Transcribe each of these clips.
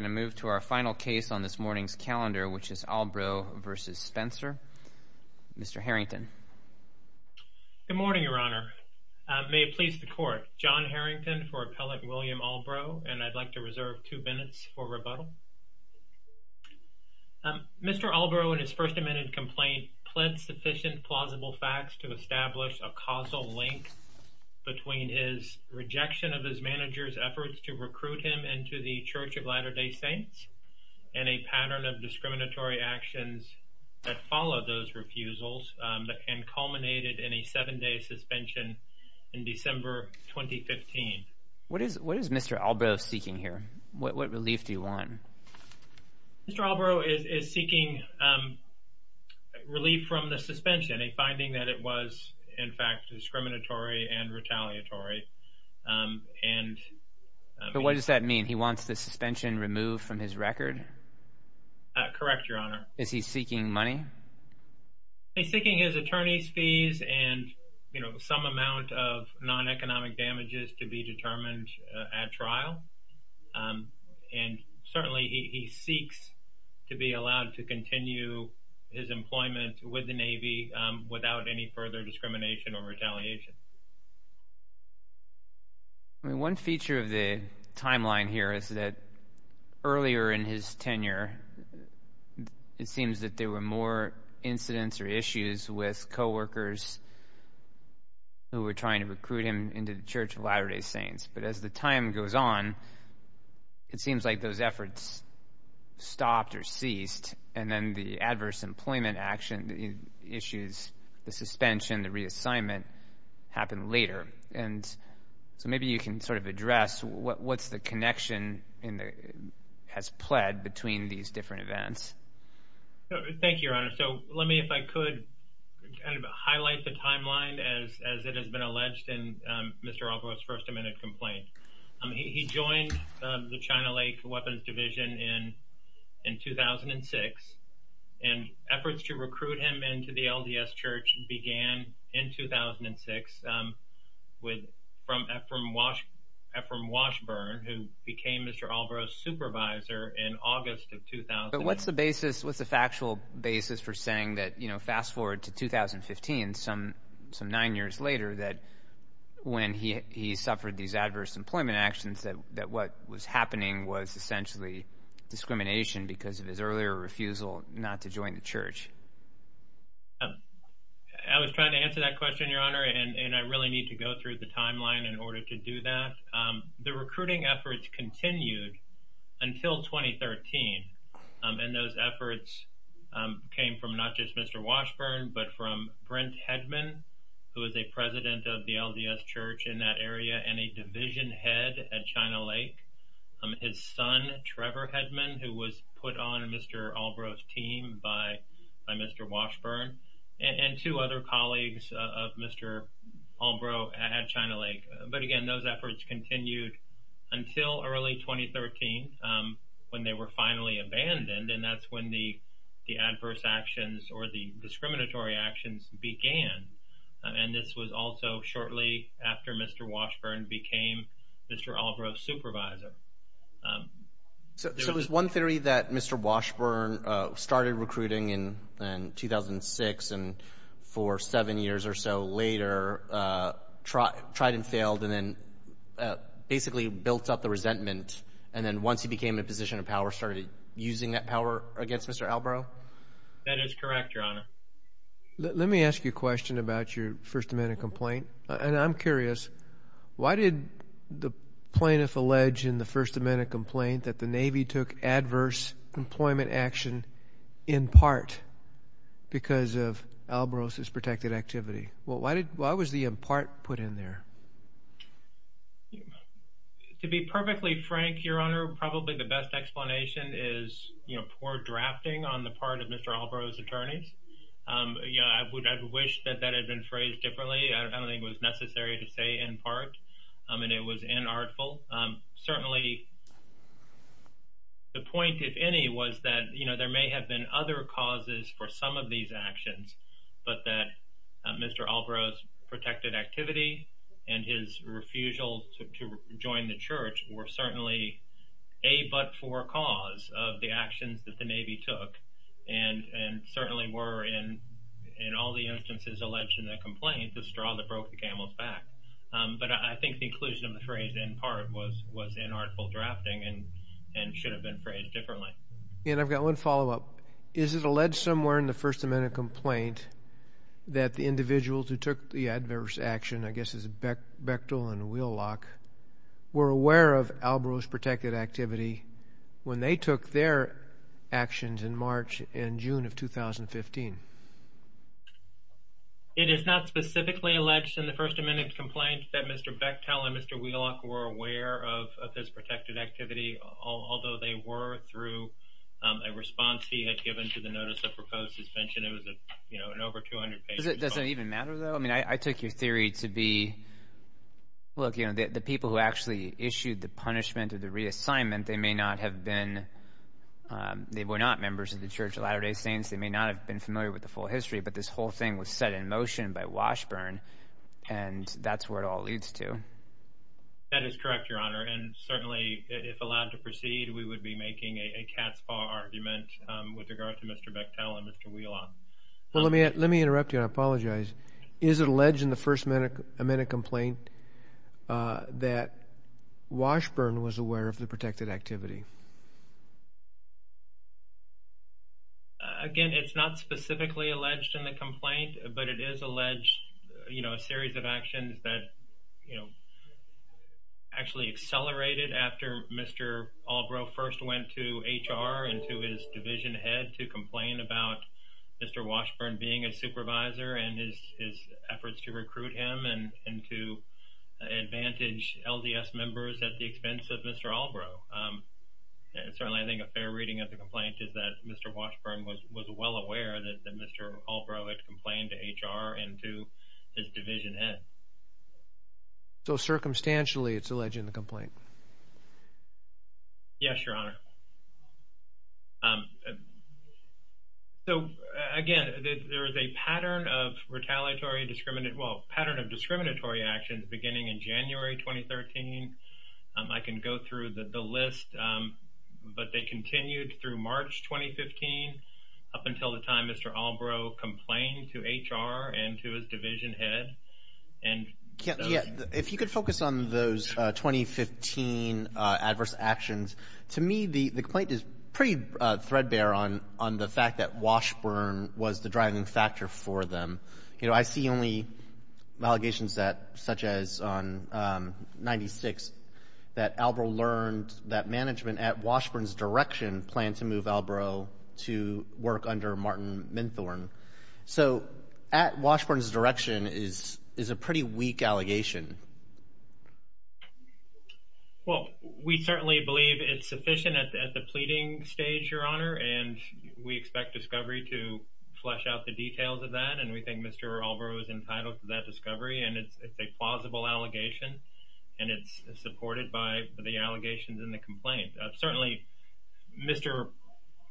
I'm going to move to our final case on this morning's calendar, which is Albro v. Spencer. Mr. Harrington. Good morning, Your Honor. May it please the Court, John Harrington for Appellant William Albro, and I'd like to reserve two minutes for rebuttal. Mr. Albro, in his First Amendment complaint, pled sufficient plausible facts to establish a causal link between his rejection of his manager's efforts to recruit him into the Saints and a pattern of discriminatory actions that followed those refusals and culminated in a seven-day suspension in December 2015. What is Mr. Albro seeking here? What relief do you want? Mr. Albro is seeking relief from the suspension, a finding that it was, in fact, discriminatory and retaliatory. But what does that mean? And he wants the suspension removed from his record? Correct, Your Honor. Is he seeking money? He's seeking his attorney's fees and, you know, some amount of non-economic damages to be determined at trial, and certainly he seeks to be allowed to continue his employment with the Navy without any further discrimination or retaliation. I mean, one feature of the timeline here is that earlier in his tenure, it seems that there were more incidents or issues with coworkers who were trying to recruit him into the Church of Latter-day Saints. But as the time goes on, it seems like those efforts stopped or ceased, and then the adverse happen later. And so maybe you can sort of address what's the connection has pled between these different Thank you, Your Honor. So let me, if I could, kind of highlight the timeline as it has been alleged in Mr. Albro's first amended complaint. He joined the China Lake Weapons Division in 2006, and efforts to recruit him into the Church of Latter-day Saints began in August of 2000, when he became Mr. Albro's supervisor. What's the basis? What's the factual basis for saying that, you know, fast forward to 2015, some nine years later, that when he suffered these adverse employment actions, that what was happening was essentially discrimination because of his earlier refusal not to join the Church? I was trying to answer that question, Your Honor, and I really need to go through the timeline in order to do that. The recruiting efforts continued until 2013, and those efforts came from not just Mr. Washburn, but from Brent Hedman, who is a president of the LDS Church in that area and a division head at China Lake. His son, Trevor Hedman, who was put on Mr. Albro's team by Mr. Washburn, and two other colleagues of Mr. Albro at China Lake. But again, those efforts continued until early 2013, when they were finally abandoned, and that's when the adverse actions or the discriminatory actions began. And this was also shortly after Mr. Washburn became Mr. Albro's supervisor. So there was one theory that Mr. Washburn started recruiting in 2006 and for seven years or so later, tried and failed, and then basically built up the resentment, and then once he became in a position of power, started using that power against Mr. Albro? That is correct, Your Honor. Let me ask you a question about your First Amendment complaint, and I'm curious. Why did the plaintiff allege in the First Amendment complaint that the Navy took adverse employment action in part because of Albro's protected activity? Why was the in part put in there? To be perfectly frank, Your Honor, probably the best explanation is poor drafting on the part of Mr. Albro's attorneys. I wish that that had been phrased differently. I don't think it was necessary to say in part, and it was inartful. Certainly the point, if any, was that there may have been other causes for some of these actions, but that Mr. Albro's protected activity and his refusal to join the Church were certainly a but for cause of the actions that the Navy took, and certainly were in all the instances alleged in that complaint, the straw that broke the camel's back. I think the inclusion of the phrase in part was inartful drafting and should have been phrased differently. I've got one follow up. Is it alleged somewhere in the First Amendment complaint that the individuals who took the protected activity, when they took their actions in March and June of 2015? It is not specifically alleged in the First Amendment complaint that Mr. Bechtel and Mr. Wheelock were aware of this protected activity, although they were through a response he had given to the Notice of Proposed Suspension, it was, you know, an over 200 page complaint. Does it even matter, though? I mean, I took your theory to be, look, you know, the people who actually issued the punishment or the reassignment, they may not have been, they were not members of the Church of Latter-day Saints, they may not have been familiar with the full history, but this whole thing was set in motion by Washburn, and that's where it all leads to. That is correct, Your Honor, and certainly if allowed to proceed, we would be making a cat's paw argument with regard to Mr. Bechtel and Mr. Wheelock. Let me interrupt you, and I apologize. Is it alleged in the First Amendment complaint that Washburn was aware of the protected activity? Again, it's not specifically alleged in the complaint, but it is alleged, you know, a series of actions that, you know, actually accelerated after Mr. Albro first went to his efforts to recruit him and to advantage LDS members at the expense of Mr. Albro. Certainly, I think a fair reading of the complaint is that Mr. Washburn was well aware that Mr. Albro had complained to HR and to his division head. So circumstantially, it's alleged in the complaint? Yes, Your Honor. So, again, there is a pattern of retaliatory discriminatory, well, pattern of discriminatory actions beginning in January 2013. I can go through the list, but they continued through March 2015 up until the time Mr. Albro complained to HR and to his division head. If you could focus on those 2015 adverse actions. To me, the complaint is pretty threadbare on the fact that Washburn was the driving factor for them. You know, I see only allegations that, such as on 96, that Albro learned that management at Washburn's direction planned to move Albro to work under Martin Minthorn. So, at Washburn's direction is a pretty weak allegation. Well, we certainly believe it's sufficient at the pleading stage, Your Honor, and we expect discovery to flesh out the details of that, and we think Mr. Albro is entitled to that discovery, and it's a plausible allegation, and it's supported by the allegations in the complaint. Certainly, Mr.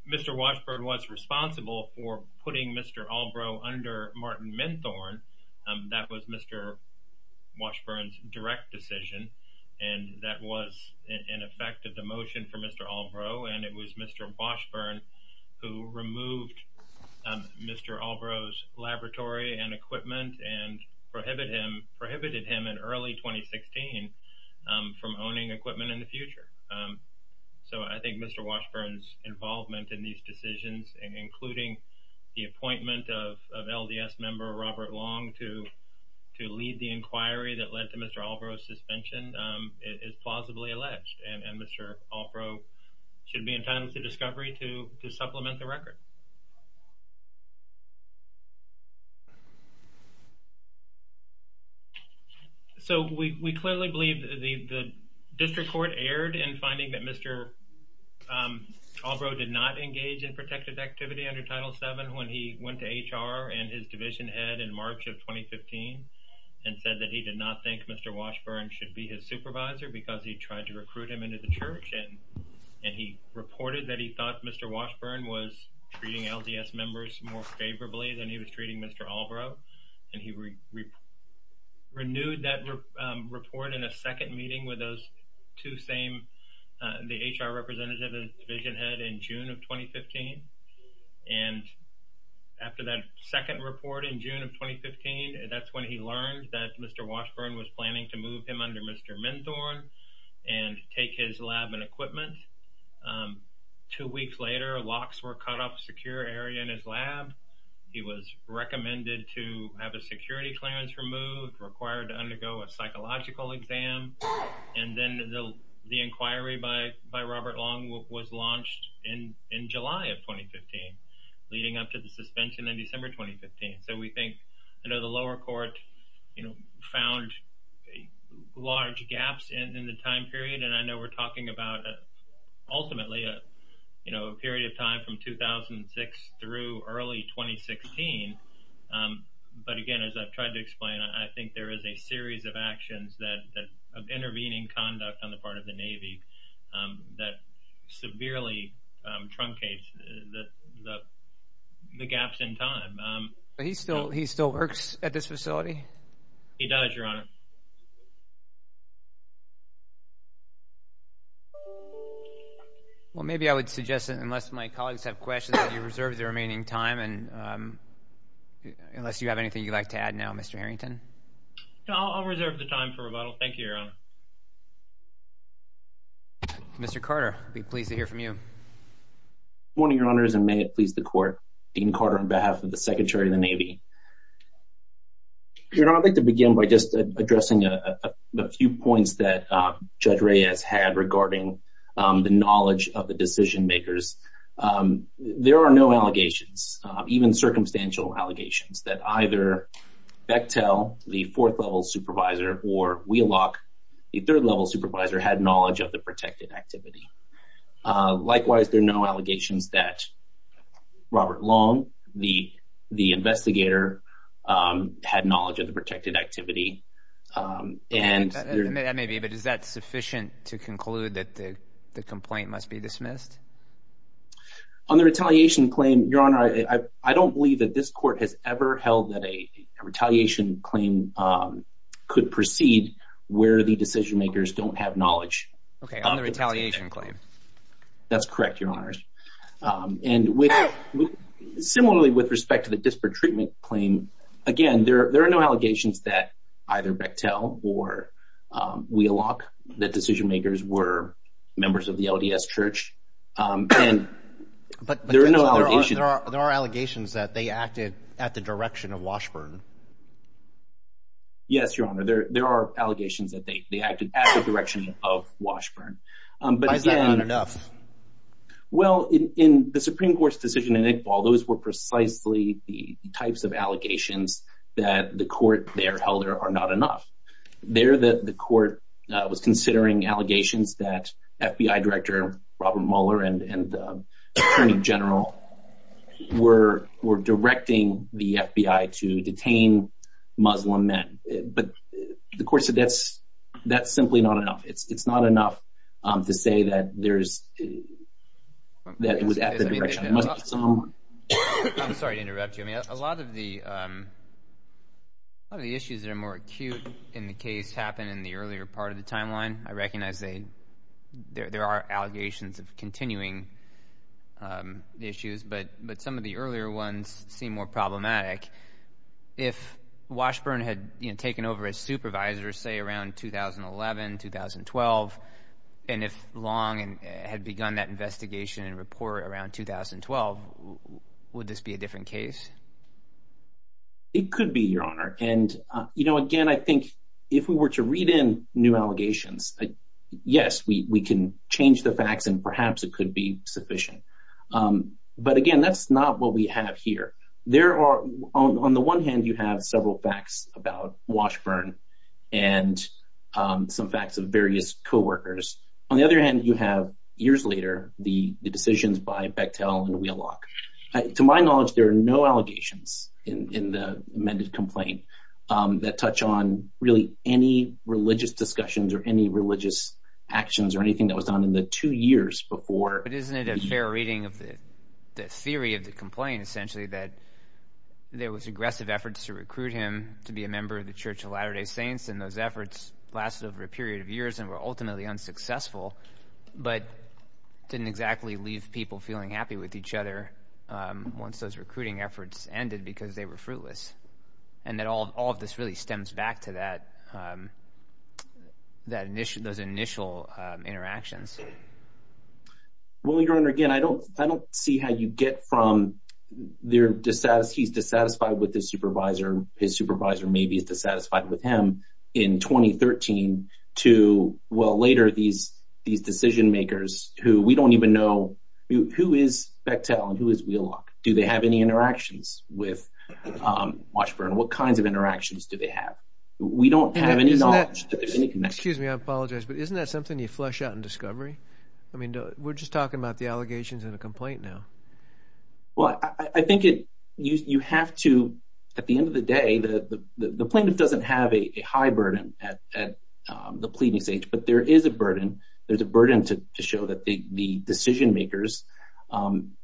Washburn was responsible for putting Mr. Albro under Martin Minthorn. That was Mr. Washburn's direct decision, and that was an effect of the motion for Mr. Albro, and it was Mr. Washburn who removed Mr. Albro's laboratory and equipment and prohibited him in early 2016 from owning equipment in the future. So I think Mr. Washburn's involvement in these decisions, including the appointment of LDS member Robert Long to lead the inquiry that led to Mr. Albro's suspension is plausibly alleged, and Mr. Albro should be entitled to discovery to supplement the record. So we clearly believe the district court erred in finding that Mr. Albro did not engage in protective activity under Title VII when he went to HR and his division head in March of 2015 and said that he did not think Mr. Washburn should be his supervisor because he tried to recruit him into the church, and he reported that he thought Mr. Washburn was treating LDS members more favorably than he was treating Mr. Albro, and he renewed that report in a second meeting with those two same, the HR representative and division head in June of 2015, and after that second report in June of 2015, that's when he learned that Mr. Washburn was planning to move him under Mr. Minthorn and take his lab and equipment. Two weeks later, locks were cut off a secure area in his lab. He was recommended to have a security clearance removed, required to undergo a psychological exam, and then the inquiry by Robert Long was launched in July of 2015, leading up to the suspension in December 2015. So we think the lower court found large gaps in the time period, and I know we're talking about ultimately a period of time from 2006 through early 2016, but again, as I've tried to explain, I think there is a series of actions that, of intervening conduct on the part of the Navy, that severely truncates the gaps in time. But he still works at this facility? He does, Your Honor. Well, maybe I would suggest that unless my colleagues have questions, that you reserve the remaining time, and unless you have anything you'd like to add now, Mr. Harrington? No, I'll reserve the time for rebuttal. Thank you, Your Honor. Mr. Carter, I'd be pleased to hear from you. Good morning, Your Honors, and may it please the court. Dean Carter on behalf of the Secretary of the Navy. Your Honor, I'd like to begin by just addressing a few points that Judge Reyes had regarding the knowledge of the decision-makers. There are no allegations, even circumstantial allegations, that either Bechtel, the fourth-level supervisor, or Wheelock, the third-level supervisor, had knowledge of the protected activity. Likewise, there are no allegations that Robert Long, the investigator, had knowledge of the protected activity. And... That may be, but is that sufficient to conclude that the complaint must be dismissed? On the retaliation claim, Your Honor, I don't believe that this court has ever held that a retaliation claim could proceed where the decision-makers don't have knowledge. Okay, on the retaliation claim. That's correct, Your Honors. And similarly, with respect to the disparate treatment claim, again, there are no allegations that either Bechtel or Wheelock, the decision-makers, were members of the LDS Church. But there are allegations that they acted at the direction of Washburn. Yes, Your Honor, there are allegations that they acted at the direction of Washburn. Why is that not enough? Well, in the Supreme Court's decision in Iqbal, those were precisely the types of allegations that the court there held are not enough. There, the court was considering allegations that FBI Director Robert Mueller and the Muslim men. But the court said that's simply not enough. It's not enough to say that it was at the direction of Muslim. I'm sorry to interrupt you. I mean, a lot of the issues that are more acute in the case happened in the earlier part of the timeline. I recognize there are allegations of continuing the issues, but some of the earlier ones seem more problematic. If Washburn had taken over as supervisor, say, around 2011, 2012, and if Long had begun that investigation and report around 2012, would this be a different case? It could be, Your Honor. And again, I think if we were to read in new allegations, yes, we can change the facts and perhaps it could be sufficient. But again, that's not what we have here. There are, on the one hand, you have several facts about Washburn and some facts of various co-workers. On the other hand, you have years later the decisions by Bechtel and Wheelock. To my knowledge, there are no allegations in the amended complaint that touch on really any religious discussions or any religious actions or anything that was done in the two years before. Isn't it a fair reading of the theory of the complaint, essentially, that there was aggressive efforts to recruit him to be a member of the Church of Latter-day Saints and those efforts lasted over a period of years and were ultimately unsuccessful, but didn't exactly leave people feeling happy with each other once those recruiting efforts ended because they were fruitless? And that all of this really stems back to those initial interactions. Well, Your Honor, again, I don't see how you get from he's dissatisfied with his supervisor, his supervisor maybe is dissatisfied with him, in 2013 to, well, later these decision-makers who we don't even know. Who is Bechtel and who is Wheelock? Do they have any interactions with Washburn? What kinds of interactions do they have? We don't have any knowledge that there's any connection. Excuse me, I apologize, but isn't that something you flesh out in discovery? I mean, we're just talking about the allegations and the complaint now. Well, I think you have to, at the end of the day, the plaintiff doesn't have a high burden at the pleading stage, but there is a burden. There's a burden to show that the decision-makers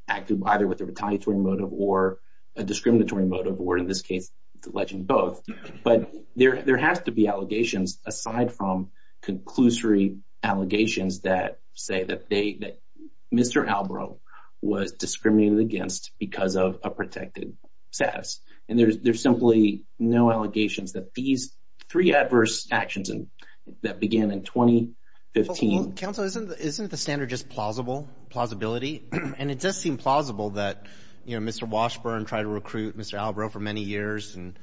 acted either with a retaliatory motive or a discriminatory motive or, in this case, alleging both. But there has to be allegations aside from conclusory allegations that say that Mr. Albro was discriminated against because of a protected status. And there's simply no allegations that these three adverse actions that began in 2015. Counsel, isn't the standard just plausibility? And it does seem plausible that Mr. Washburn tried to recruit Mr. Albro for many years and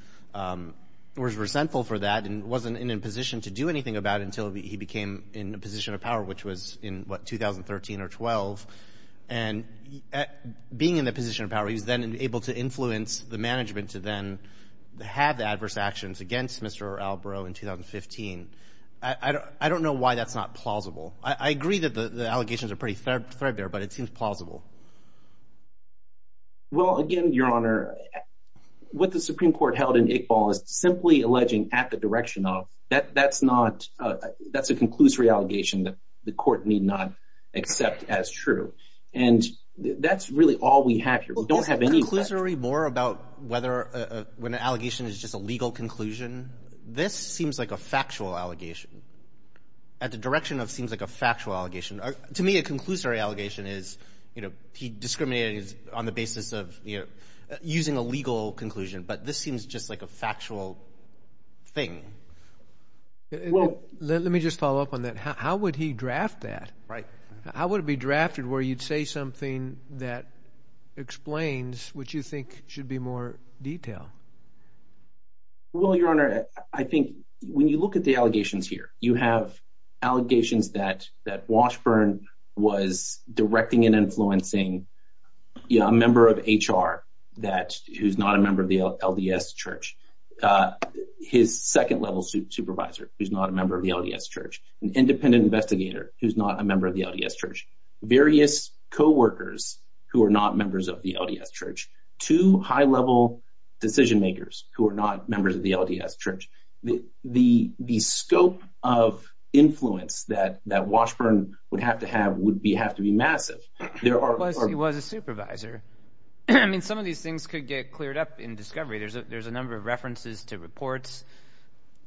was resentful for that and wasn't in a position to do anything about it until he became in a position of power, which was in, what, 2013 or 12. And being in that position of power, he was then able to influence the management to then have adverse actions against Mr. Albro in 2015. I don't know why that's not plausible. I agree that the allegations are pretty threadbare, but it seems plausible. Well, again, Your Honor, what the Supreme Court held in Iqbal is simply alleging at the direction of, that's a conclusory allegation that the court need not accept as true. And that's really all we have here. We don't have any facts. Well, is it conclusory more about whether when an allegation is just a legal conclusion? This seems like a factual allegation, at the direction of seems like a factual allegation. To me, a conclusory allegation is, you know, he discriminated on the basis of, you know, using a legal conclusion. But this seems just like a factual thing. Let me just follow up on that. How would he draft that? Right. How would it be drafted where you'd say something that explains what you think should be more detailed? Well, Your Honor, I think when you look at the allegations here, you have allegations that Washburn was directing and influencing, you know, a member of HR who's not a member of the LDS Church, his second-level supervisor who's not a member of the LDS Church, an independent investigator who's not a member of the LDS Church, various co-workers who are not members of the LDS Church, two high-level decision makers who are not members of the LDS Church. The scope of influence that Washburn would have to have would have to be massive. He was a supervisor. I mean, some of these things could get cleared up in discovery. There's a number of references to reports.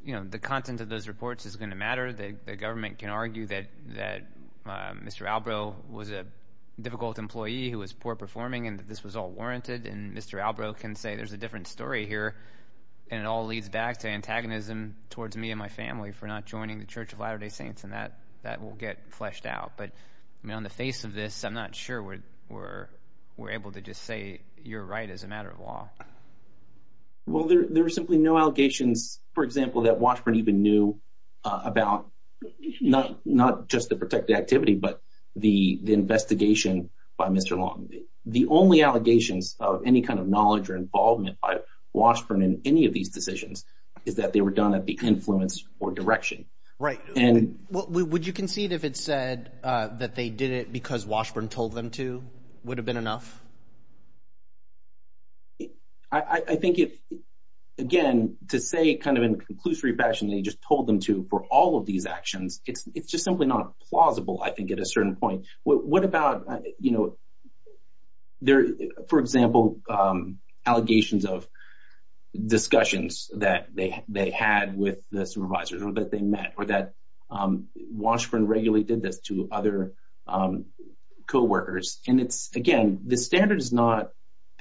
You know, the content of those reports is going to matter. The government can argue that Mr. Albro was a difficult employee who was poor performing and that this was all warranted. And Mr. Albro can say there's a different story here. And it all leads back to antagonism towards me and my family for not joining the Church of Latter-day Saints, and that will get fleshed out. But, I mean, on the face of this, I'm not sure we're able to just say you're right as a matter of law. Well, there are simply no allegations, for example, that Washburn even knew about, not just the protected activity, but the investigation by Mr. Long. The only allegations of any kind of knowledge or involvement by Washburn in any of these decisions is that they were done at the influence or direction. Right. Would you concede if it said that they did it because Washburn told them to? Would it have been enough? I think, again, to say kind of in a conclusory fashion that he just told them to for all of these actions, it's just simply not plausible, I think, at a certain point. What about, you know, for example, allegations of discussions that they had with the supervisors or that they met or that Washburn regularly did this to other co-workers. And it's, again, the standard is not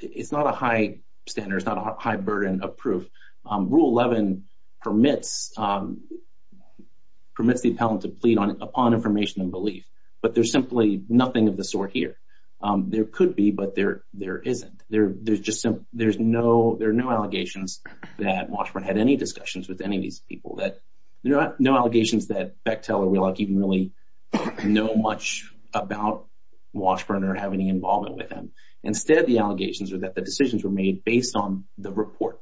a high standard. It's not a high burden of proof. Rule 11 permits the appellant to plead upon information and belief. But there's simply nothing of the sort here. There could be, but there isn't. There are no allegations that Washburn had any discussions with any of these people. There are no allegations that Bechtel or Wheelock even really know much about Washburn or have any involvement with them. Instead, the allegations are that the decisions were made based on the report,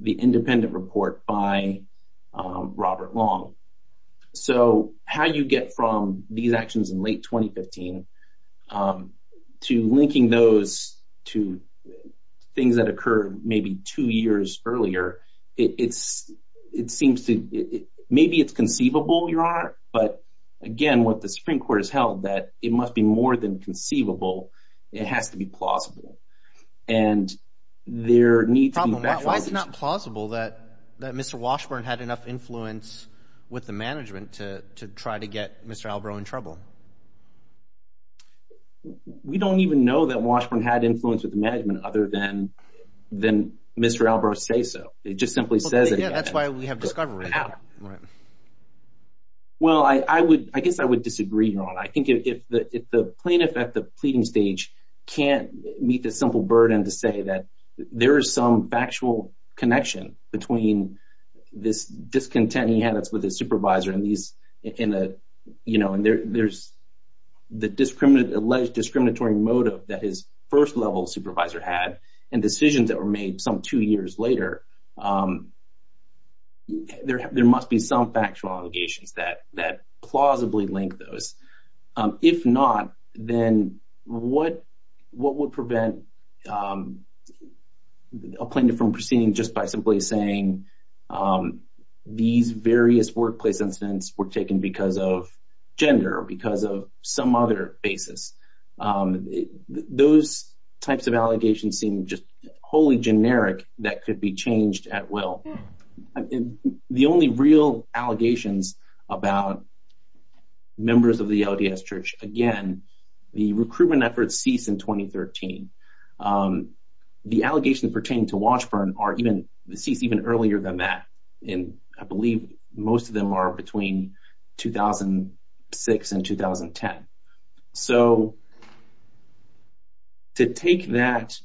the independent report by Robert Long. So how you get from these actions in late 2015 to linking those to things that occurred maybe two years earlier, it seems to—maybe it's conceivable, Your Honor, but, again, what the Supreme Court has held that it must be more than conceivable. It has to be plausible. And there needs to be— with the management to try to get Mr. Albrow in trouble. We don't even know that Washburn had influence with the management other than Mr. Albrow say so. It just simply says it. Yeah, that's why we have discovery. Well, I guess I would disagree, Your Honor. I think if the plaintiff at the pleading stage can't meet the simple burden to say that there is some factual connection between this discontent he had with his supervisor and these—you know, and there's the alleged discriminatory motive that his first-level supervisor had and decisions that were made some two years later, there must be some factual allegations that plausibly link those. If not, then what would prevent a plaintiff from proceeding just by simply saying these various workplace incidents were taken because of gender or because of some other basis? Those types of allegations seem just wholly generic that could be changed at will. And the only real allegations about members of the LDS Church, again, the recruitment efforts ceased in 2013. The allegations pertaining to Washburn are even—ceased even earlier than that, and I believe most of them are between 2006 and 2010. So to take that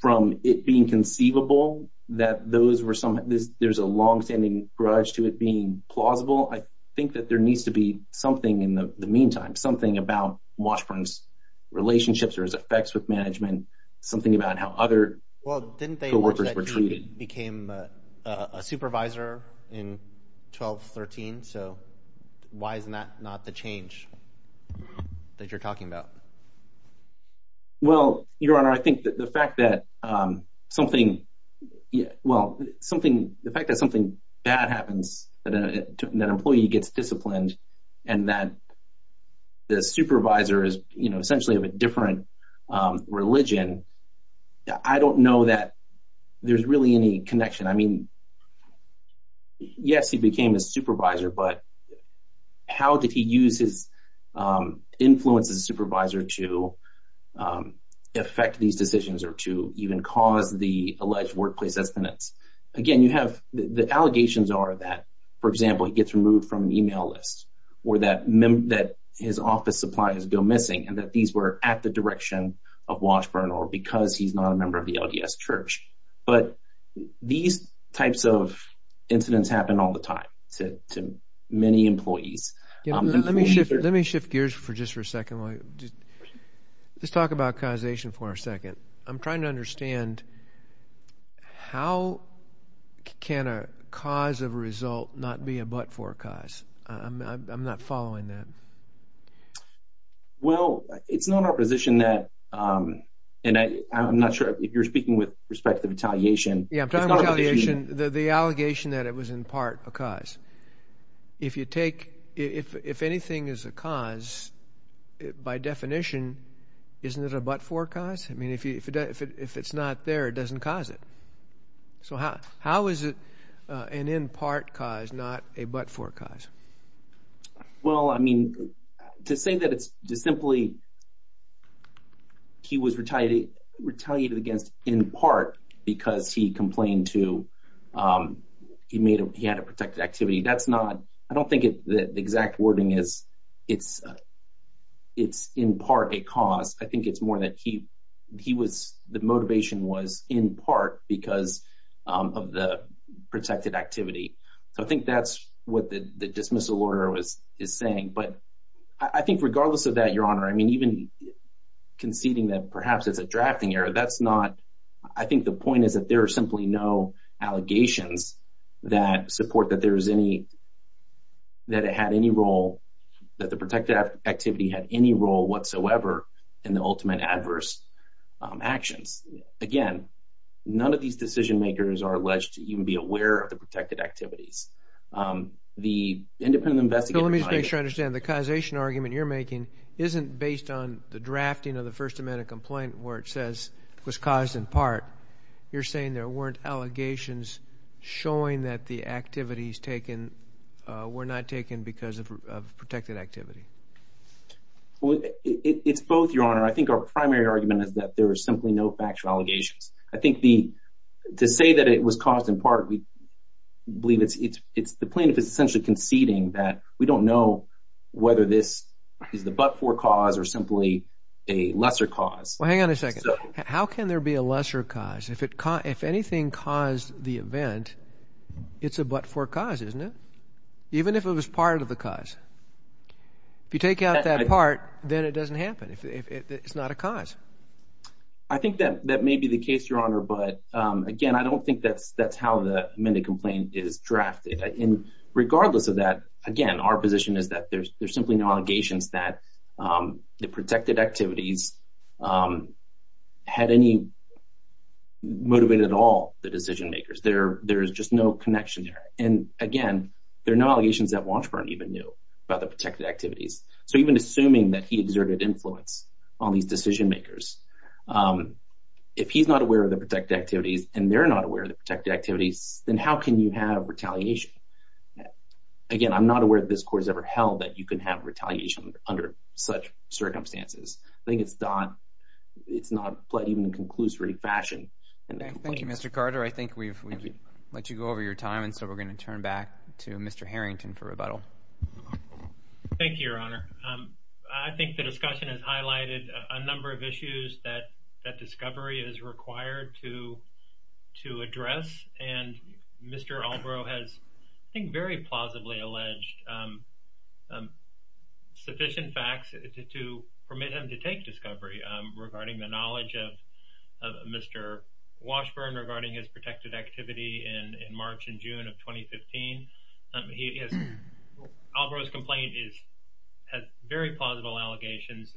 from it being conceivable that those were some—there's a longstanding grudge to it being plausible, I think that there needs to be something in the meantime, something about Washburn's relationships or his effects with management, something about how other co-workers were treated. Well, didn't they mention that he became a supervisor in 1213? So why isn't that not the change? That you're talking about? Well, Your Honor, I think that the fact that something—well, something—the fact that something bad happens, that an employee gets disciplined, and that the supervisor is, you know, essentially of a different religion, I don't know that there's really any connection. I mean, yes, he became a supervisor, but how did he use his influence as a supervisor to affect these decisions or to even cause the alleged workplace estimates? Again, you have—the allegations are that, for example, he gets removed from an email list or that his office supplies go missing and that these were at the direction of Washburn or because he's not a member of the LDS Church. But these types of incidents happen all the time to many employees. Your Honor, let me shift gears just for a second. Let's talk about causation for a second. I'm trying to understand how can a cause of a result not be a but-for cause? I'm not following that. Well, it's not our position that—and I'm not sure if you're speaking with respect to retaliation. Yeah, I'm talking about retaliation, the allegation that it was in part a cause. If you take—if anything is a cause, by definition, isn't it a but-for cause? I mean, if it's not there, it doesn't cause it. So how is it an in-part cause, not a but-for cause? Well, I mean, to say that it's just simply he was retaliated against in part because he complained to—he made a—he had a protected activity, that's not—I don't think the exact wording is it's in part a cause. I think it's more that he was—the motivation was in part because of the protected activity. So I think that's what the dismissal order is saying. But I think regardless of that, Your Honor, I mean, even conceding that perhaps it's a drafting error, that's not—I think the point is that there are simply no allegations that support that there is any—that it had any role—that the protected activity had any role whatsoever in the ultimate adverse actions. Again, none of these decision-makers are alleged to even be aware of the protected activities. The independent investigator— So let me just make sure I understand. The causation argument you're making isn't based on the drafting of the First Amendment complaint where it says it was caused in part. You're saying there weren't allegations showing that the activities taken were not Well, it's both, Your Honor. I think our primary argument is that there are simply no factual allegations. I think the—to say that it was caused in part, we believe it's—the plaintiff is essentially conceding that we don't know whether this is the but-for cause or simply a lesser cause. Well, hang on a second. How can there be a lesser cause? If anything caused the event, it's a but-for cause, isn't it? Even if it was part of the cause. If you take out that part, then it doesn't happen. It's not a cause. I think that may be the case, Your Honor, but again, I don't think that's how the amended complaint is drafted. And regardless of that, again, our position is that there's simply no allegations that the protected activities had any—motivated at all the decision-makers. There's just no connection there. And again, there are no allegations that Washburn even knew about the protected activities. So even assuming that he exerted influence on these decision-makers, if he's not aware of the protected activities and they're not aware of the protected activities, then how can you have retaliation? Again, I'm not aware that this Court has ever held that you can have retaliation under such circumstances. I think it's not—it's not even in a conclusory fashion. Thank you, Mr. Carter. I think we've let you go over your time, and so we're going to turn back to Mr. Harrington for rebuttal. Thank you, Your Honor. I think the discussion has highlighted a number of issues that discovery is required to address, and Mr. Albro has, I think, very plausibly alleged sufficient facts to permit him to take discovery regarding the knowledge of Mr. Washburn regarding his protected activity in March and June of 2015. He has—Albro's complaint is—has very plausible allegations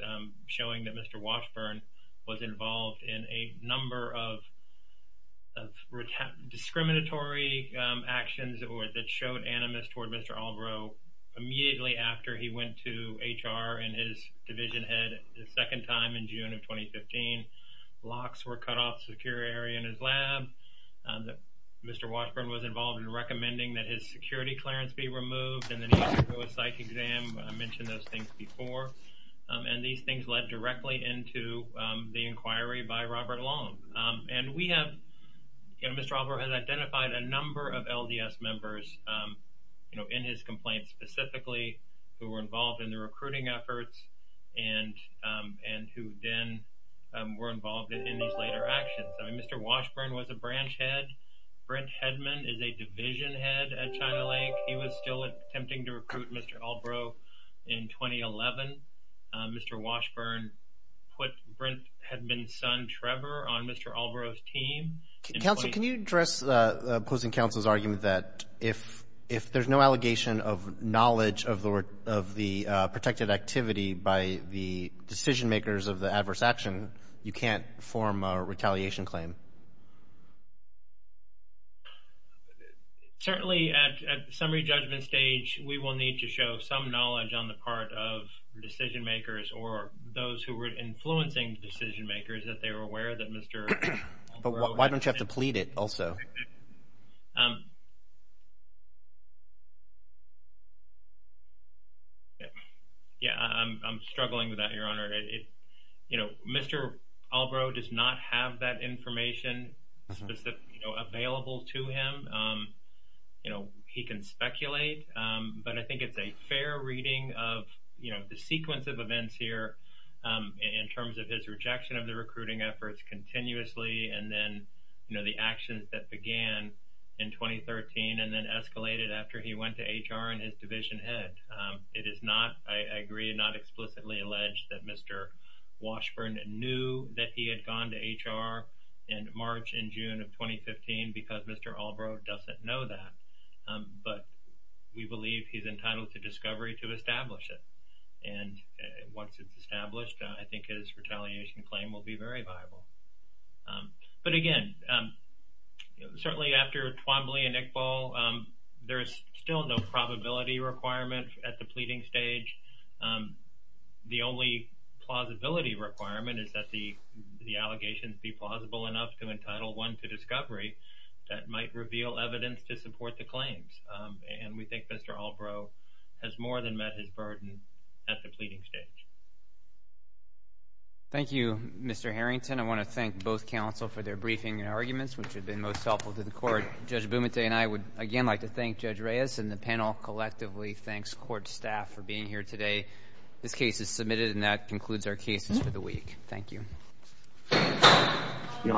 showing that Mr. Washburn was involved in a number of discriminatory actions that showed animus toward Mr. Albro immediately after he went to HR and his division head the second time in June of 2015. Locks were cut off in a secure area in his lab. The—Mr. Washburn was involved in recommending that his security clearance be removed and then he had to do a psych exam. I mentioned those things before, and these things led directly into the inquiry by Robert Long. And we have—Mr. Albro has identified a number of LDS members, you know, in his complaint specifically who were involved in the recruiting efforts and who then were involved in these later actions. Mr. Washburn was a branch head. Brent Hedman is a division head at China Lake. He was still attempting to recruit Mr. Albro in 2011. Mr. Washburn put Brent Hedman's son Trevor on Mr. Albro's team. Counsel, can you address opposing counsel's argument that if there's no allegation of knowledge of the protected activity by the decision makers of the adverse action, you can't form a retaliation claim? Certainly, at summary judgment stage, we will need to show some knowledge on the part of decision makers or those who were influencing decision makers that they were aware that Mr. Albro had— But why don't you have to plead it also? Yeah, I'm struggling with that, Your Honor. You know, Mr. Albro does not have that information specific—you know, available to him. You know, he can speculate, but I think it's a fair reading of, you know, the sequence of events here in terms of his rejection of the recruiting efforts continuously and then, you know, the actions that began in 2013 and then escalated after he went to HR and his division head. It is not, I agree, not explicitly alleged that Mr. Washburn knew that he had gone to HR in March and June of 2015 because Mr. Albro doesn't know that. But we believe he's entitled to discovery to establish it. And once it's established, I think his retaliation claim will be very viable. But again, certainly after Twombly and Iqbal, there's still no probability requirement at the pleading stage. The only plausibility requirement is that the allegations be plausible enough to entitle one to discovery that might reveal evidence to support the claims. And we think Mr. Albro has more than met his burden at the pleading stage. Thank you, Mr. Harrington. I want to thank both counsel for their briefing and arguments, which have been most helpful to the court. Judge Bumate and I would, again, like to thank Judge Reyes and the panel collectively. Thanks, court staff, for being here today. This case is submitted and that concludes our cases for the week. Thank you. Thank you,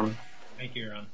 Your Honor.